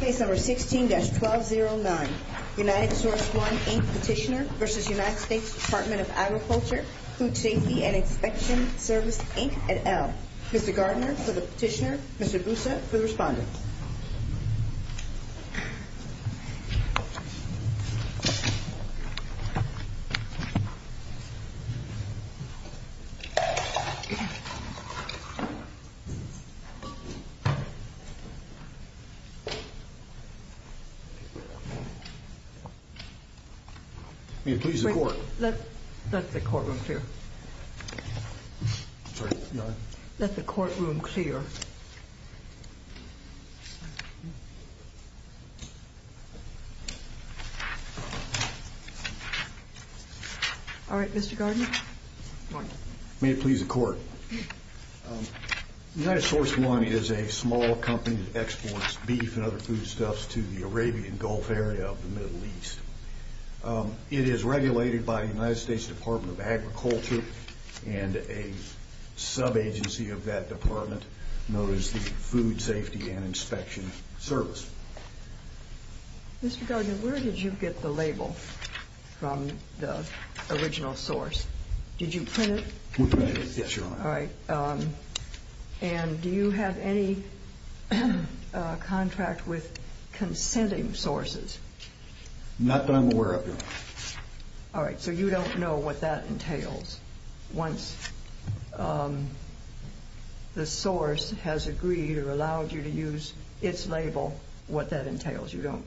Case No. 16-1209, United Source One, Inc. Petitioner v. United States Department of Agriculture, Food Safety and Inspection Service, Inc. et al. Mr. Gardner for the petitioner, Mr. Busa for the respondent. May it please the Court. Let the courtroom clear. Sorry, go ahead. Let the courtroom clear. All right, Mr. Gardner. May it please the Court. United Source One is a small company that exports beef and other foodstuffs to the Arabian Gulf area of the Middle East. It is regulated by the United States Department of Agriculture and a sub-agency of that department known as the Food Safety and Inspection Service. Mr. Gardner, where did you get the label from the original source? Did you print it? Yes, Your Honor. All right. And do you have any contract with consenting sources? Not that I'm aware of, Your Honor. All right. So you don't know what that entails once the source has agreed or allowed you to use its label, what that entails? You don't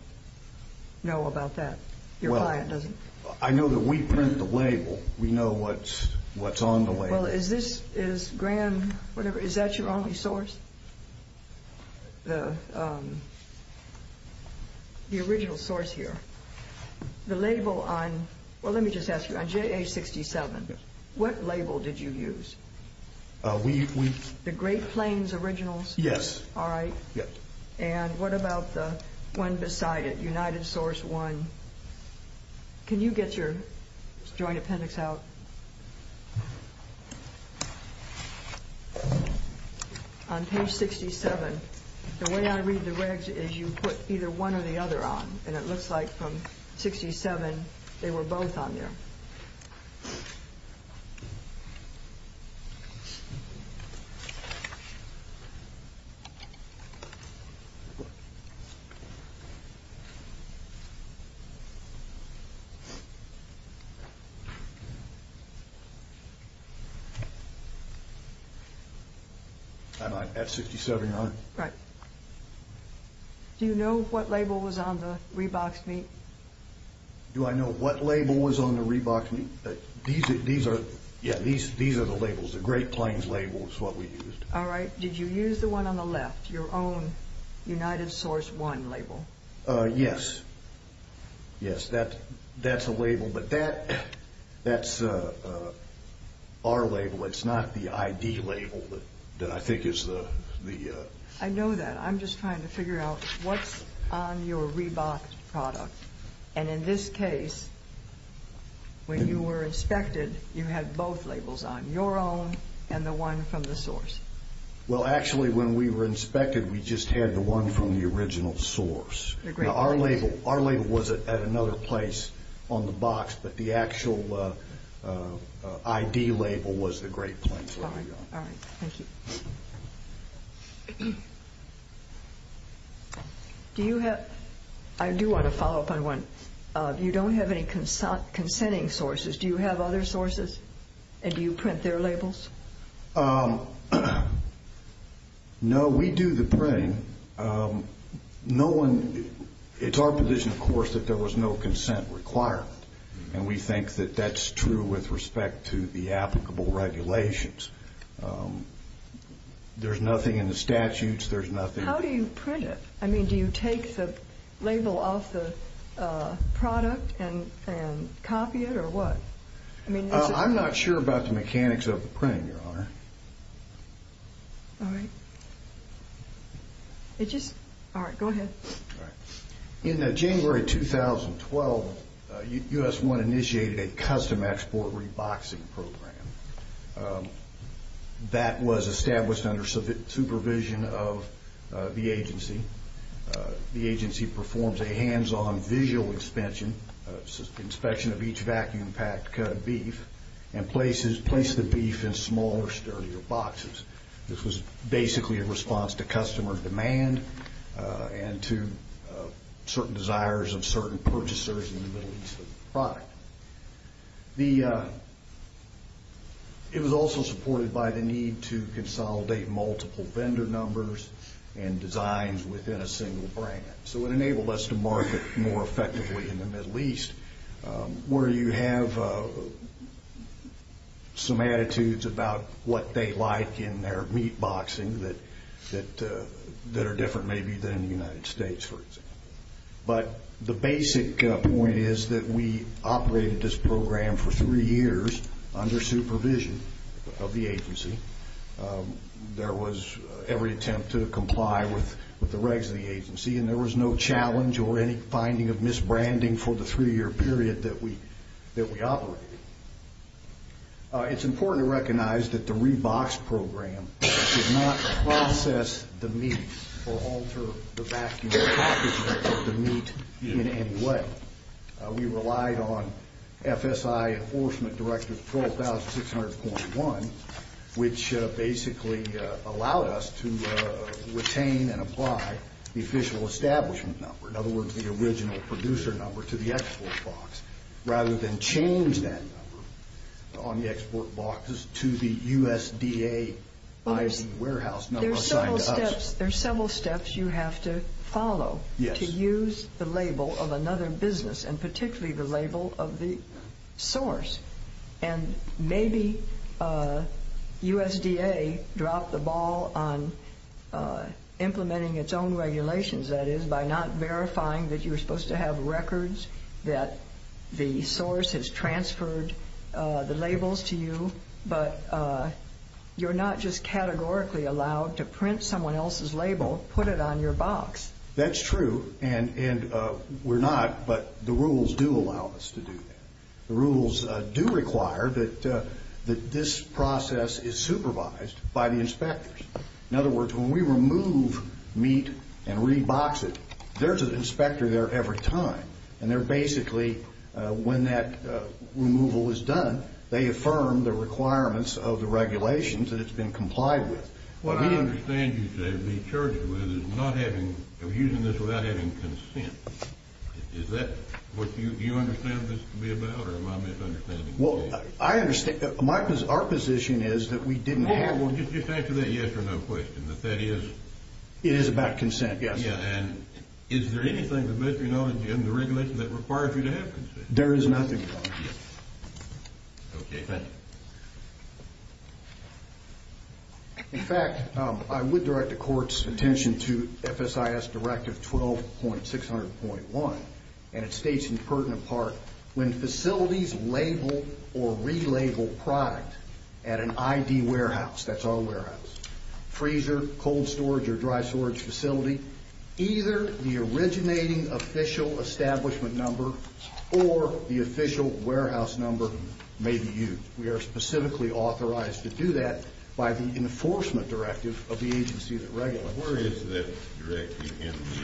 know about that? Your client doesn't? I know that we print the label. We know what's on the label. Well, is this, is Grand, whatever, is that your only source, the original source here? The label on, well, let me just ask you, on JA67, what label did you use? The Great Plains originals? Yes. All right. And what about the one beside it, United Source One? Can you get your Joint Appendix out? On page 67, the way I read the regs is you put either one or the other on, and it looks like from 67 they were both on there. I'm at 67, Your Honor. Right. Do you know what label was on the reboxed meat? Do I know what label was on the reboxed meat? These are, yeah, these are the labels, the Great Plains labels, what we used. All right. Did you use the one on the left, your own United Source One label? Yes. Yes, that's a label, but that's our label. It's not the ID label that I think is the... I know that. I'm just trying to figure out what's on your reboxed product, and in this case, when you were inspected, you had both labels on, your own and the one from the source. Well, actually, when we were inspected, we just had the one from the original source. Our label was at another place on the box, but the actual ID label was the Great Plains one. All right. Thank you. Do you have, I do want to follow up on one. You don't have any consenting sources. Do you have other sources, and do you print their labels? No, we do the printing. No one, it's our position, of course, that there was no consent requirement, and we think that that's true with respect to the applicable regulations. There's nothing in the statutes. There's nothing... How do you print it? I mean, do you take the label off the product and copy it, or what? I'm not sure about the mechanics of the printing, Your Honor. All right. It just, all right, go ahead. All right. In January 2012, US-1 initiated a custom export reboxing program that was established under supervision of the agency. The agency performs a hands-on visual inspection of each vacuum-packed cut of beef and places the beef in smaller, sturdier boxes. This was basically a response to customer demand and to certain desires of certain purchasers in the Middle East for the product. It was also supported by the need to consolidate multiple vendor numbers and designs within a single brand. So it enabled us to market more effectively in the Middle East, where you have some attitudes about what they like in their meatboxing that are different maybe than in the United States, for example. But the basic point is that we operated this program for three years under supervision of the agency. There was every attempt to comply with the regs of the agency, and there was no challenge or any finding of misbranding for the three-year period that we operated. It's important to recognize that the rebox program did not process the meat or alter the vacuum packaging of the meat in any way. We relied on FSI Enforcement Directive 12600.1, which basically allowed us to retain and apply the official establishment number, in other words, the original producer number, to the export box, rather than change that number on the export boxes to the USDA-ID warehouse number assigned to us. There are several steps you have to follow to use the label of another business, and particularly the label of the source. And maybe USDA dropped the ball on implementing its own regulations, that is, by not verifying that you were supposed to have records, that the source has transferred the labels to you, but you're not just categorically allowed to print someone else's label, put it on your box. That's true, and we're not, but the rules do allow us to do that. The rules do require that this process is supervised by the inspectors. In other words, when we remove meat and rebox it, there's an inspector there every time, and they're basically, when that removal is done, they affirm the requirements of the regulations that it's been complied with. What I understand you say we're charged with is not having, using this without having consent. Is that what you understand this to be about, or am I misunderstanding you? Well, I understand, our position is that we didn't have. Well, just answer that yes or no question, that that is. It is about consent, yes. Yeah, and is there anything in the Regulations that requires you to have consent? There is nothing, Your Honor. Okay, thank you. In fact, I would direct the Court's attention to FSIS Directive 12.600.1, and it states in pertinent part, when facilities label or relabel product at an ID warehouse, that's all warehouses, freezer, cold storage, or dry storage facility, either the originating official establishment number or the official warehouse number may be used. We are specifically authorized to do that by the Enforcement Directive of the agency that regulates it. Where is that Directive?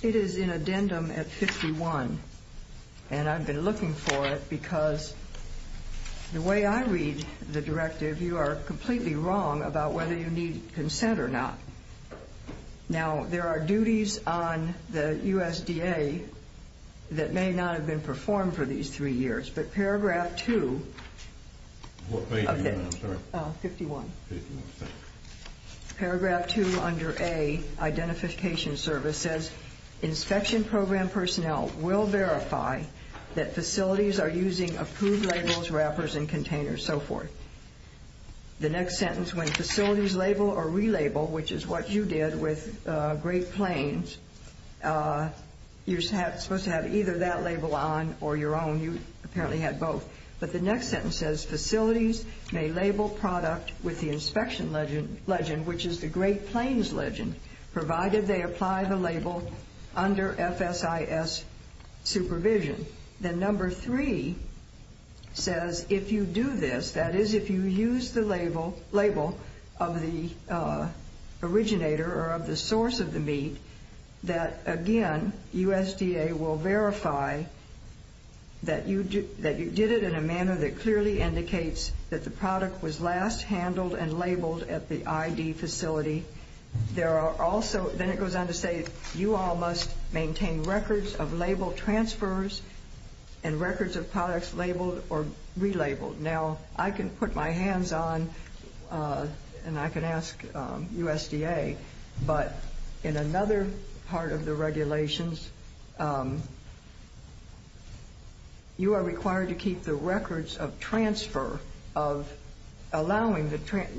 It is in addendum at 51, and I've been looking for it because the way I read the Directive, you are completely wrong about whether you need consent or not. Now, there are duties on the USDA that may not have been performed for these three years, but Paragraph 2 of 51, Paragraph 2 under A, Identification Service, says inspection program personnel will verify that facilities are using approved labels, wrappers, and containers, so forth. The next sentence, when facilities label or relabel, which is what you did with Great Plains, you're supposed to have either that label on or your own. You apparently had both. But the next sentence says facilities may label product with the inspection legend, which is the Great Plains legend, provided they apply the label under FSIS supervision. Then number 3 says if you do this, that is if you use the label of the originator or of the source of the meat, that, again, USDA will verify that you did it in a manner that clearly indicates that the product was last handled and labeled at the ID facility. Then it goes on to say you all must maintain records of label transfers and records of products labeled or relabeled. Now, I can put my hands on, and I can ask USDA, but in another part of the regulations, you are required to keep the records of transfer, of allowing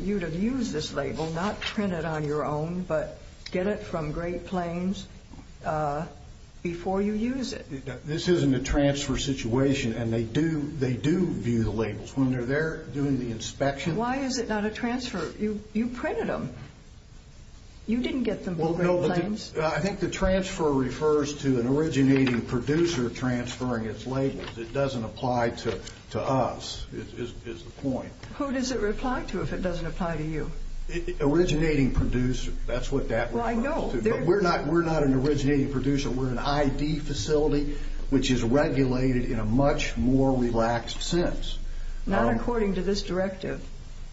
you to use this label, not print it on your own, but get it from Great Plains before you use it. This isn't a transfer situation, and they do view the labels when they're there doing the inspection. Why is it not a transfer? You printed them. You didn't get them from Great Plains. I think the transfer refers to an originating producer transferring its labels. It doesn't apply to us. That is the point. Who does it reply to if it doesn't apply to you? Originating producer, that's what that refers to. We're not an originating producer. We're an ID facility, which is regulated in a much more relaxed sense. Not according to this directive.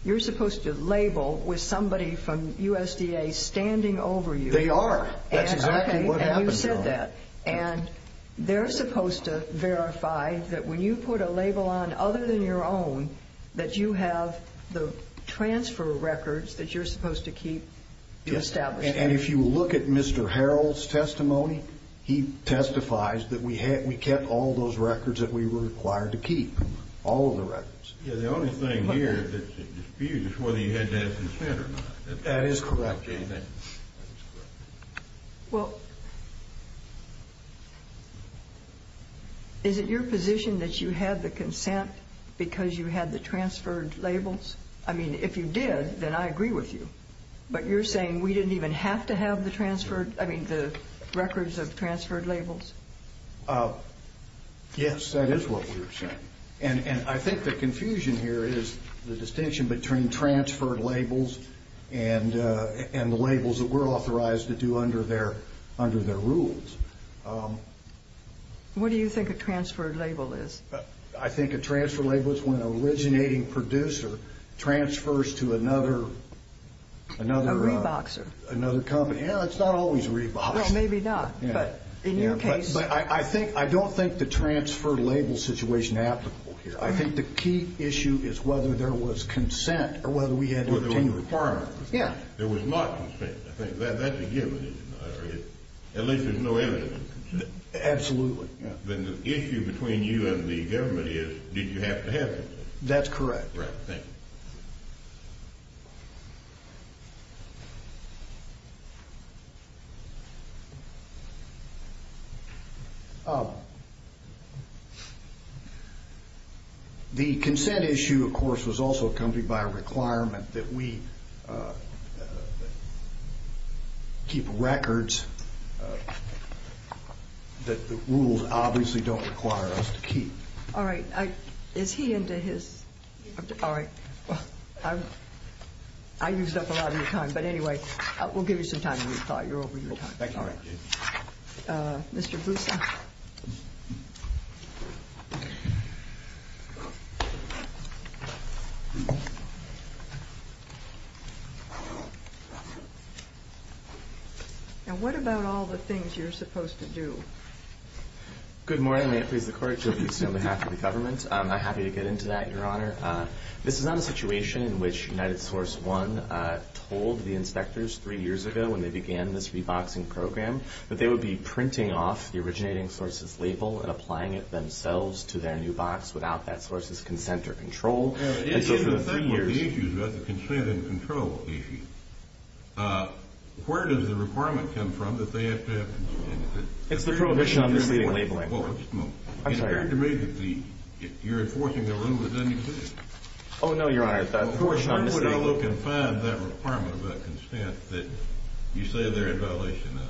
You're supposed to label with somebody from USDA standing over you. They are. That's exactly what happens. You said that. They're supposed to verify that when you put a label on other than your own, that you have the transfer records that you're supposed to keep to establish that. If you look at Mr. Harrell's testimony, he testifies that we kept all those records that we were required to keep, all of the records. The only thing here that's at dispute is whether you had to have consent or not. That is correct. Well, is it your position that you had the consent because you had the transferred labels? I mean, if you did, then I agree with you. But you're saying we didn't even have to have the records of transferred labels? Yes, that is what we were saying. I think the confusion here is the distinction between transferred labels and the labels that we're authorized to do under their rules. What do you think a transferred label is? I think a transferred label is when an originating producer transfers to another company. A reboxer. It's not always a reboxer. Well, maybe not, but in your case. But I don't think the transferred label situation is applicable here. I think the key issue is whether there was consent or whether we had to continue. Whether there was a requirement. Yeah. There was not consent. I think that's a given. At least there's no evidence of consent. Absolutely. Then the issue between you and the government is, did you have to have consent? That's correct. Thank you. The consent issue, of course, was also accompanied by a requirement that we keep records that the rules obviously don't require us to keep. All right. Is he into his? All right. Well, I used up a lot of your time. But anyway, we'll give you some time to rethought. You're over your time. Thank you. Mr. Boussa. Now, what about all the things you're supposed to do? Good morning. May it please the Court. Joe Boussa on behalf of the government. I'm happy to get into that, Your Honor. This is not a situation in which United Source 1 told the inspectors three years ago when they began this reboxing program that they would be printing off the originating sources label and applying it themselves to their new box without that source's consent or control. And so for the three years… The issue is about the consent and control issue. Where does the requirement come from that they have to have consent? It's the Prohibition on Misleading Labeling. Well, just a moment. I'm sorry. It appeared to me that you're enforcing a rule that doesn't exist. Oh, no, Your Honor. Why would I look and find that requirement about consent that you say they're in violation of?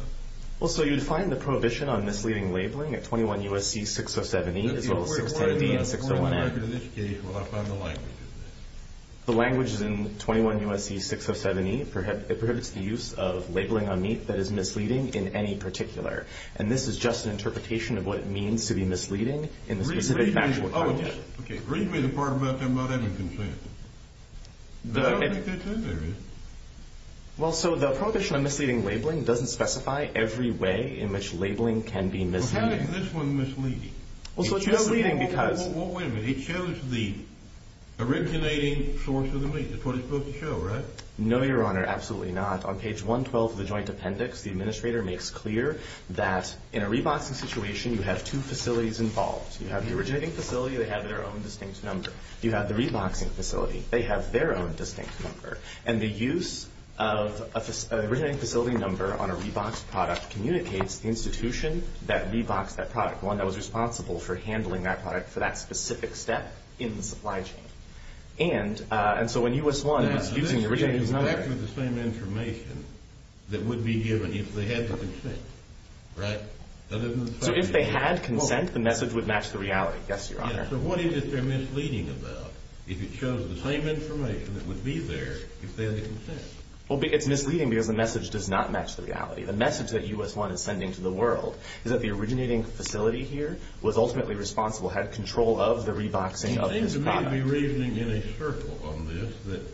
Well, so you'd find the Prohibition on Misleading Labeling at 21 U.S.C. 607-E as well as 610-B and 601-N. Well, I found the language in there. It prohibits the use of labeling on meat that is misleading in any particular. And this is just an interpretation of what it means to be misleading in the specific factual context. Okay. Read me the part about them not having consent. I don't think that's in there, is it? Well, so the Prohibition on Misleading Labeling doesn't specify every way in which labeling can be misleading. Well, how is this one misleading? Well, so it's misleading because… Well, wait a minute. It shows the originating source of the meat. That's what it's supposed to show, right? No, Your Honor. Absolutely not. On page 112 of the Joint Appendix, the administrator makes clear that in a re-boxing situation, you have two facilities involved. You have the originating facility. They have their own distinct number. You have the re-boxing facility. They have their own distinct number. And the use of an originating facility number on a re-boxed product communicates the institution that re-boxed that product, one that was responsible for handling that product for that specific step in the supply chain. And so when U.S. 1 was using the originating facility number… This is exactly the same information that would be given if they had the consent, right? So if they had consent, the message would match the reality. Yes, Your Honor. So what is it they're misleading about if it shows the same information that would be there if they had the consent? Well, it's misleading because the message does not match the reality. The message that U.S. 1 is sending to the world is that the originating facility here was ultimately responsible, had control of the re-boxing of this product. I may be reasoning in a circle on this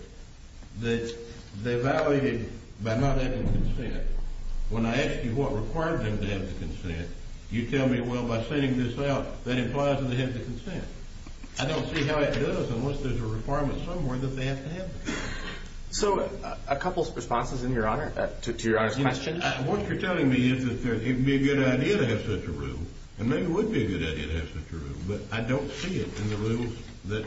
that they violated by not having consent. When I ask you what required them to have the consent, you tell me, well, by sending this out, that implies that they have the consent. I don't see how it does unless there's a requirement somewhere that they have to have the consent. So a couple of responses to Your Honor's question. What you're telling me is that it would be a good idea to have such a rule, and maybe it would be a good idea to have such a rule, but I don't see it in the rules that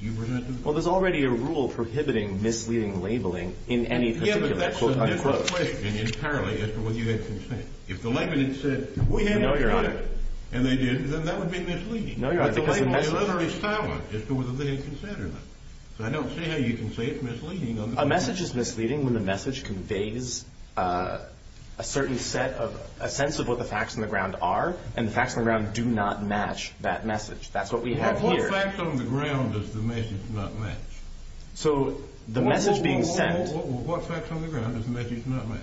you presented. Well, there's already a rule prohibiting misleading labeling in any particular quote-unquote. Yes, but that's a different question entirely as to whether you had consent. If the labeling said, we have consent, and they didn't, then that would be misleading. No, Your Honor, because the message is misleading. It's a literary silence as to whether they had consent or not. So I don't see how you can say it's misleading. A message is misleading when the message conveys a certain sense of what the facts on the ground are, and the facts on the ground do not match that message. That's what we have here. What facts on the ground does the message not match? So the message being sent— What facts on the ground does the message not match?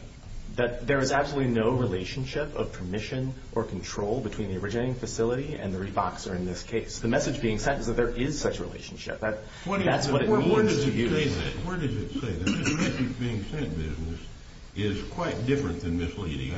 That there is absolutely no relationship of permission or control between the originating facility and the reboxer in this case. The message being sent is that there is such a relationship. That's what it means to you. Where does it say that? This message being sent business is quite different than misleading.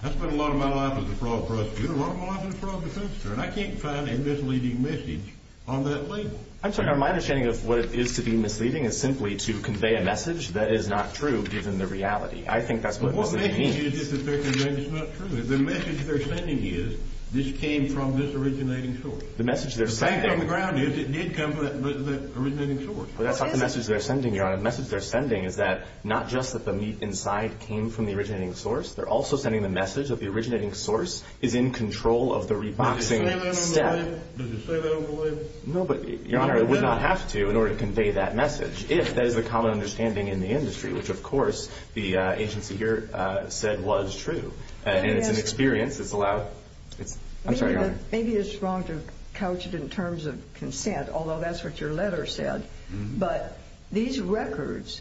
That's been a lot of my life as a fraud prosecutor. You've been a lot of my life as a fraud prosecutor, and I can't find a misleading message on that label. I'm sorry. My understanding of what it is to be misleading is simply to convey a message that is not true, given the reality. I think that's what it means. But what message is it that they're conveying that's not true? The message they're sending is this came from this originating source. The message they're sending— The fact on the ground is it did come from that originating source. But that's not the message they're sending, Your Honor. The message they're sending is that not just that the meat inside came from the originating source, they're also sending the message that the originating source is in control of the reboxing step. Did you say that on the label? Did you say that on the label? No, but, Your Honor, I would not have to in order to convey that message, if that is the common understanding in the industry, which, of course, the agency here said was true. And it's an experience. It's allowed—I'm sorry, Your Honor. Maybe it's wrong to couch it in terms of consent, although that's what your letter said. But these records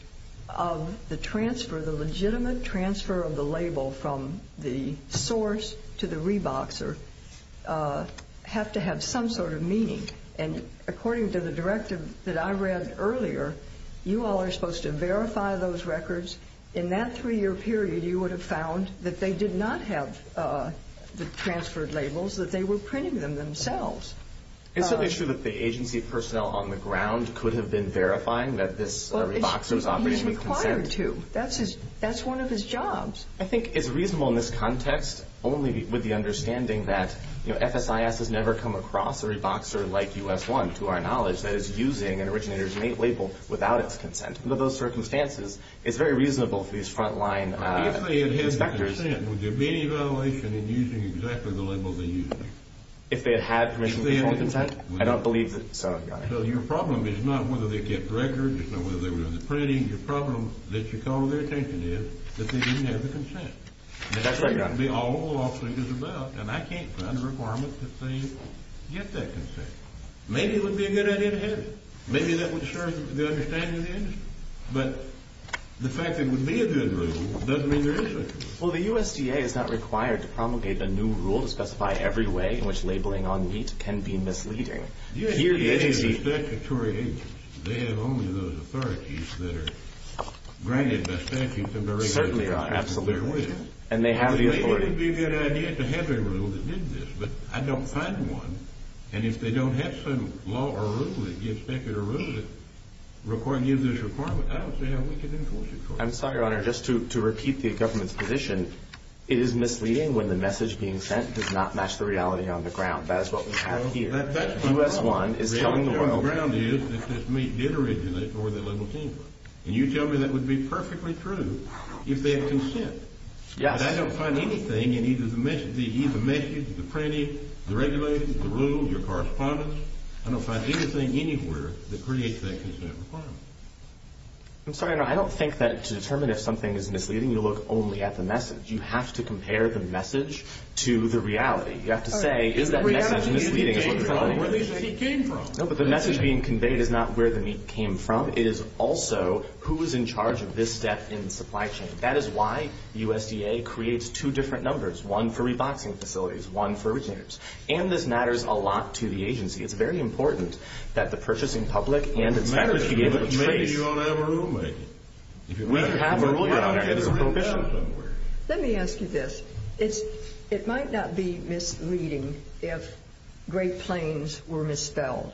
of the transfer, the legitimate transfer of the label from the source to the reboxer, have to have some sort of meaning. And according to the directive that I read earlier, you all are supposed to verify those records. In that three-year period, you would have found that they did not have the transferred labels, that they were printing them themselves. It's certainly true that the agency personnel on the ground could have been verifying that this reboxer was operating with consent. Well, he's required to. That's one of his jobs. I think it's reasonable in this context only with the understanding that, you know, FSIS has never come across a reboxer like US-1, to our knowledge, that is using an originator's label without its consent. Under those circumstances, it's very reasonable for these front-line inspectors— If they had had consent, would there be any violation in using exactly the label they used? If they had had permission before consent? I don't believe so. So your problem is not whether they kept records, it's not whether they were doing the printing. Your problem, that you call to their attention, is that they didn't have the consent. That's right, Your Honor. That would be all the lawsuit is about, and I can't find a requirement that they get that consent. Maybe it would be a good idea to have it. Maybe that would serve the understanding of the industry. But the fact that there would be a good rule doesn't mean there isn't a good rule. Well, the USDA is not required to promulgate a new rule to specify every way in which labeling on meat can be misleading. The USDA is a statutory agency. They have only those authorities that are granted by statutes and verifications. Certainly not. Absolutely not. And they have the authority. It would be a good idea to have a rule that did this, but I don't find one. And if they don't have some law or rule that gives specular rules that give this requirement, I don't see how we can enforce it, Your Honor. I'm sorry, Your Honor. Just to repeat the government's position, it is misleading when the message being sent does not match the reality on the ground. That is what we have here. The reality on the ground is that this meat did originate from where the label came from. And you tell me that would be perfectly true if they had consent. Yes. But I don't find anything in either the message, the printing, the regulations, the rules, your correspondence. I don't find anything anywhere that creates that consent requirement. I'm sorry, Your Honor. I don't think that to determine if something is misleading, you look only at the message. You have to compare the message to the reality. You have to say, is that message misleading? The reality is he came from where the meat came from. No, but the message being conveyed is not where the meat came from. It is also who is in charge of this step in the supply chain. That is why USDA creates two different numbers, one for reboxing facilities, one for originators. And this matters a lot to the agency. It's very important that the purchasing public and inspectors be able to trace. It matters. Maybe you don't have a rulemaker. We have a rulemaker. Let me ask you this. It might not be misleading if Great Plains were misspelled.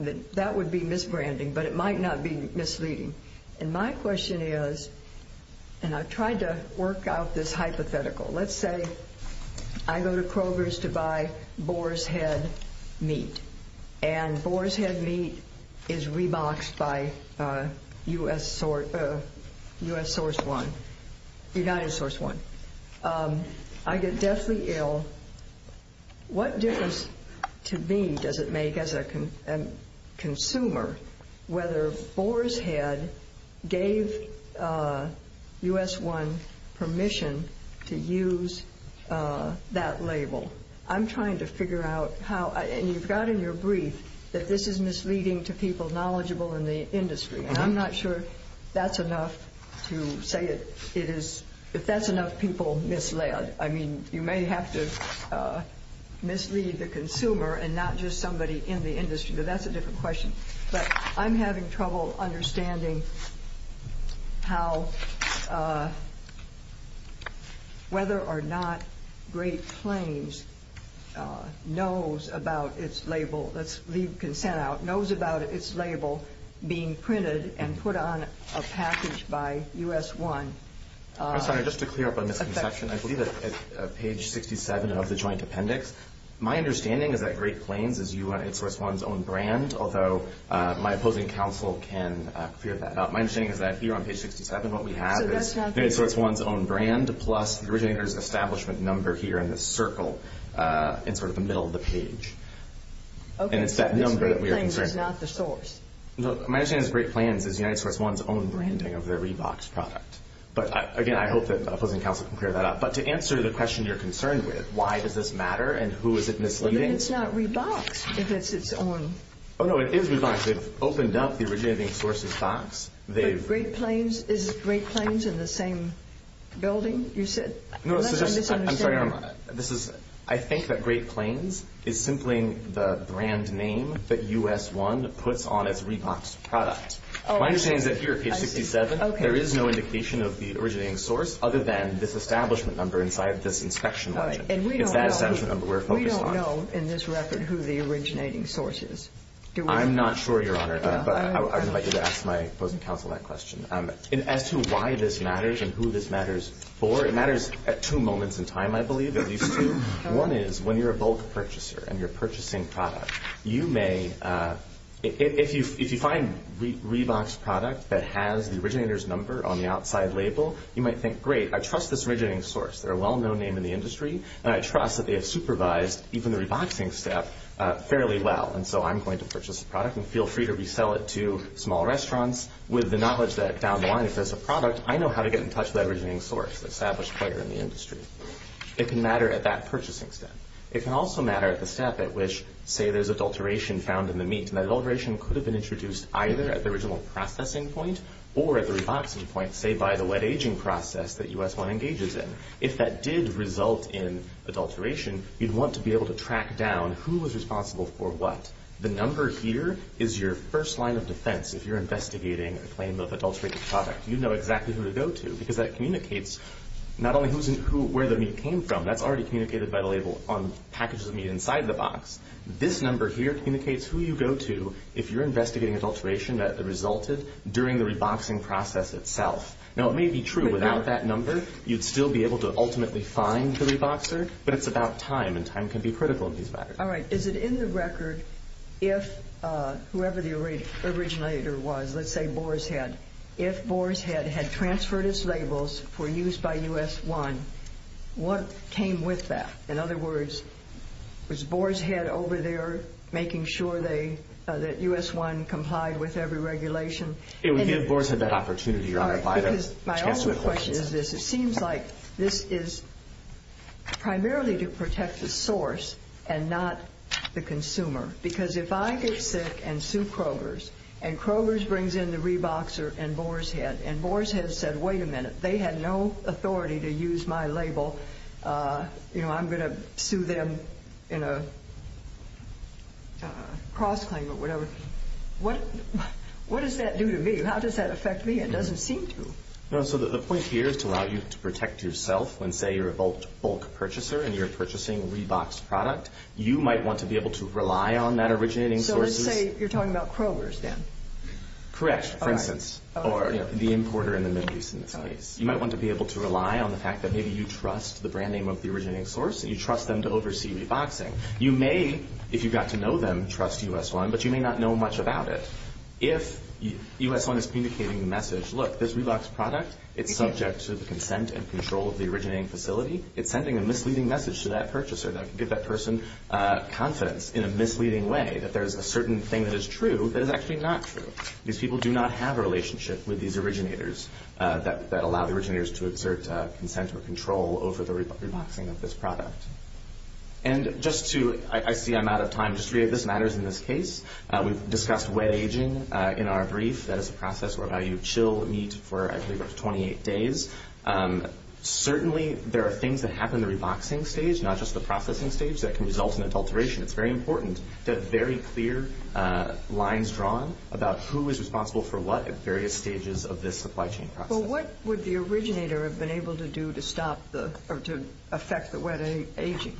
That would be misbranding, but it might not be misleading. And my question is, and I've tried to work out this hypothetical. Let's say I go to Kroger's to buy Boar's Head meat, and Boar's Head meat is reboxed by U.S. Source 1, United Source 1. I get deathly ill. What difference to me does it make as a consumer whether Boar's Head gave U.S. 1 permission to use that label? I'm trying to figure out how, and you've got in your brief that this is misleading to people knowledgeable in the industry. And I'm not sure that's enough to say it is, if that's enough people misled. I mean, you may have to mislead the consumer and not just somebody in the industry, but that's a different question. But I'm having trouble understanding how, whether or not Great Plains knows about its label, let's leave consent out, knows about its label being printed and put on a package by U.S. 1. I'm sorry, just to clear up a misconception, I believe that page 67 of the joint appendix, my understanding is that Great Plains is United Source 1's own brand, although my opposing counsel can clear that up. My understanding is that here on page 67 what we have is United Source 1's own brand plus the originator's establishment number here in this circle in sort of the middle of the page. And it's that number that we are concerned with. Okay, so this Great Plains is not the source. No, my understanding is Great Plains is United Source 1's own branding of their Reeboks product. But, again, I hope that opposing counsel can clear that up. But to answer the question you're concerned with, why does this matter and who is it misleading? But then it's not Reeboks if it's its own. Oh, no, it is Reeboks. They've opened up the originating source's box. But Great Plains, is Great Plains in the same building you said? I'm sorry, Your Honor. I think that Great Plains is simply the brand name that U.S. 1 puts on its Reeboks product. My understanding is that here at page 67 there is no indication of the originating source other than this establishment number inside this inspection legend. Right. And we don't know. It's that establishment number we're focused on. We don't know in this record who the originating source is. I'm not sure, Your Honor, but I would invite you to ask my opposing counsel that question. As to why this matters and who this matters for, it matters at two moments in time, I believe, at least two. One is when you're a bulk purchaser and you're purchasing product, you may, if you find Reeboks product that has the originator's number on the outside label, you might think, great, I trust this originating source. They're a well-known name in the industry, and I trust that they have supervised even the Reeboksing step fairly well. And so I'm going to purchase the product and feel free to resell it to small restaurants with the knowledge that down the line if there's a product, I know how to get in touch with that originating source, the established player in the industry. It can matter at that purchasing step. It can also matter at the step at which, say, there's adulteration found in the meat, and that adulteration could have been introduced either at the original processing point or at the Reeboksing point, say, by the wet aging process that U.S. 1 engages in. If that did result in adulteration, you'd want to be able to track down who was responsible for what. The number here is your first line of defense. If you're investigating a claim of adulterated product, you know exactly who to go to because that communicates not only where the meat came from, that's already communicated by the label on packages of meat inside the box. This number here communicates who you go to if you're investigating adulteration that resulted during the Reeboksing process itself. Now, it may be true without that number you'd still be able to ultimately find the Reebokser, but it's about time, and time can be critical in these matters. All right. Is it in the record if whoever the originator was, let's say Boar's Head, if Boar's Head had transferred its labels for use by U.S. 1, what came with that? In other words, was Boar's Head over there making sure that U.S. 1 complied with every regulation? It would be if Boar's Head had that opportunity, Your Honor. My only question is this. Who is the source and not the consumer? Because if I get sick and sue Kroger's, and Kroger's brings in the Reebokser and Boar's Head, and Boar's Head said, wait a minute, they had no authority to use my label, you know, I'm going to sue them in a cross-claim or whatever. What does that do to me? How does that affect me? It doesn't seem to. No, so the point here is to allow you to protect yourself when, say, you're a bulk purchaser and you're purchasing Reebok's product, you might want to be able to rely on that originating source. So let's say you're talking about Kroger's then? Correct, for instance, or the importer in the Middle East in this case. You might want to be able to rely on the fact that maybe you trust the brand name of the originating source and you trust them to oversee Reeboksing. You may, if you got to know them, trust U.S. 1, but you may not know much about it. If U.S. 1 is communicating the message, look, this Reebok's product, it's subject to the consent and control of the originating facility. It's sending a misleading message to that purchaser that could give that person confidence in a misleading way that there's a certain thing that is true that is actually not true. These people do not have a relationship with these originators that allow the originators to exert consent or control over the Reeboksing of this product. And just to, I see I'm out of time, just three of these matters in this case. We've discussed wet aging in our brief. That is a process whereby you chill meat for, I believe, about 28 days. Certainly there are things that happen in the Reeboksing stage, not just the processing stage, that can result in adulteration. It's very important to have very clear lines drawn about who is responsible for what at various stages of this supply chain process. Well, what would the originator have been able to do to stop the, or to affect the wet aging?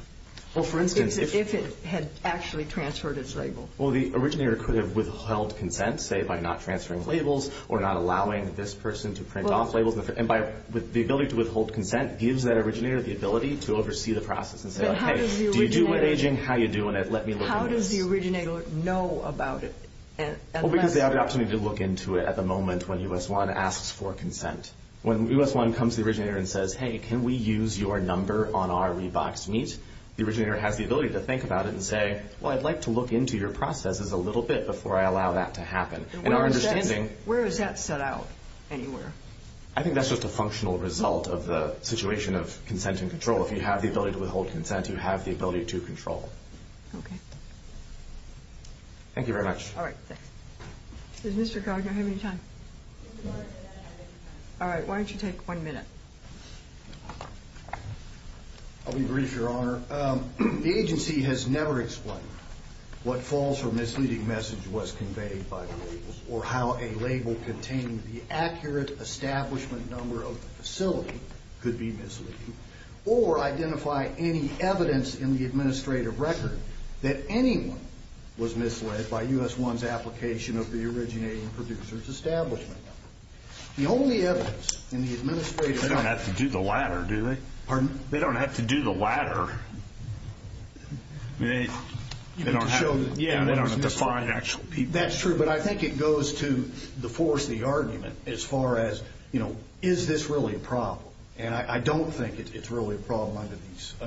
Well, for instance, if it had actually transferred its label? Well, the originator could have withheld consent, say, by not transferring labels or not allowing this person to print off labels. The ability to withhold consent gives that originator the ability to oversee the process and say, okay, do you do wet aging? How are you doing it? Let me look at this. How does the originator know about it? Well, because they have the opportunity to look into it at the moment when US1 asks for consent. When US1 comes to the originator and says, hey, can we use your number on our Reeboks meat, the originator has the ability to think about it and say, well, I'd like to look into your processes a little bit before I allow that to happen. Where is that set out anywhere? I think that's just a functional result of the situation of consent and control. If you have the ability to withhold consent, you have the ability to control. Okay. Thank you very much. All right, thanks. Does Mr. Gardner have any time? All right, why don't you take one minute? I'll be brief, Your Honor. The agency has never explained what false or misleading message was conveyed by the labels or how a label containing the accurate establishment number of the facility could be misleading or identify any evidence in the administrative record that anyone was misled by US1's application of the originating producer's establishment number. The only evidence in the administrative record... They don't have to do the latter, do they? Pardon? They don't have to do the latter. Yeah, they don't have to find actual people. That's true, but I think it goes to the force of the argument as far as, you know, is this really a problem? And I don't think it's really a problem under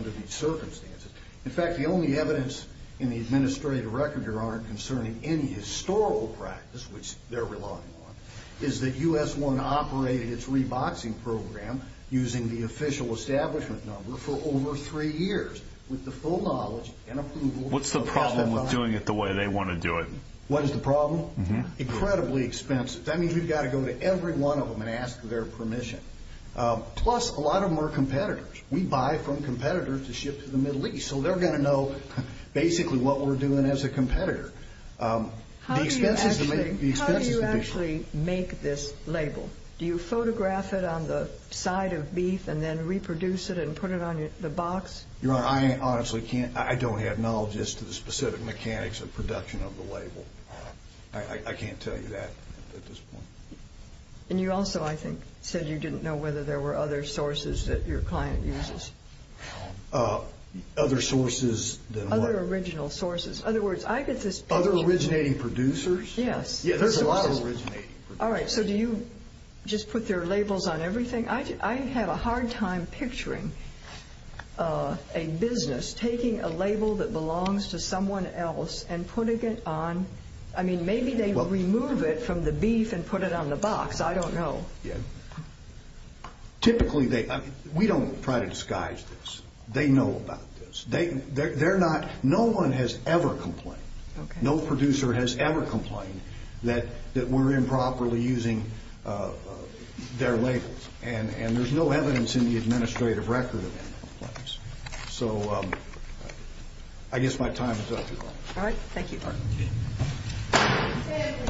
these circumstances. In fact, the only evidence in the administrative record, Your Honor, concerning any historical practice, which they're relying on, is that US1 operated its reboxing program using the official establishment number for over three years with the full knowledge and approval... What's the problem with doing it the way they want to do it? What is the problem? Incredibly expensive. That means we've got to go to every one of them and ask their permission. Plus, a lot of them are competitors. We buy from competitors to ship to the Middle East, so they're going to know basically what we're doing as a competitor. How do you actually make this label? Do you photograph it on the side of beef and then reproduce it and put it on the box? Your Honor, I honestly can't. I don't have knowledge as to the specific mechanics of production of the label. I can't tell you that at this point. And you also, I think, said you didn't know whether there were other sources that your client uses. Other sources than what? Other original sources. Other originating producers? Yes. There's a lot of originating producers. All right. So do you just put their labels on everything? I have a hard time picturing a business taking a label that belongs to someone else and putting it on. I mean, maybe they remove it from the beef and put it on the box. I don't know. Typically, we don't try to disguise this. They know about this. No one has ever complained. No producer has ever complained that we're improperly using their labels. And there's no evidence in the administrative record of any complaints. So I guess my time is up, Your Honor. All right. Thank you.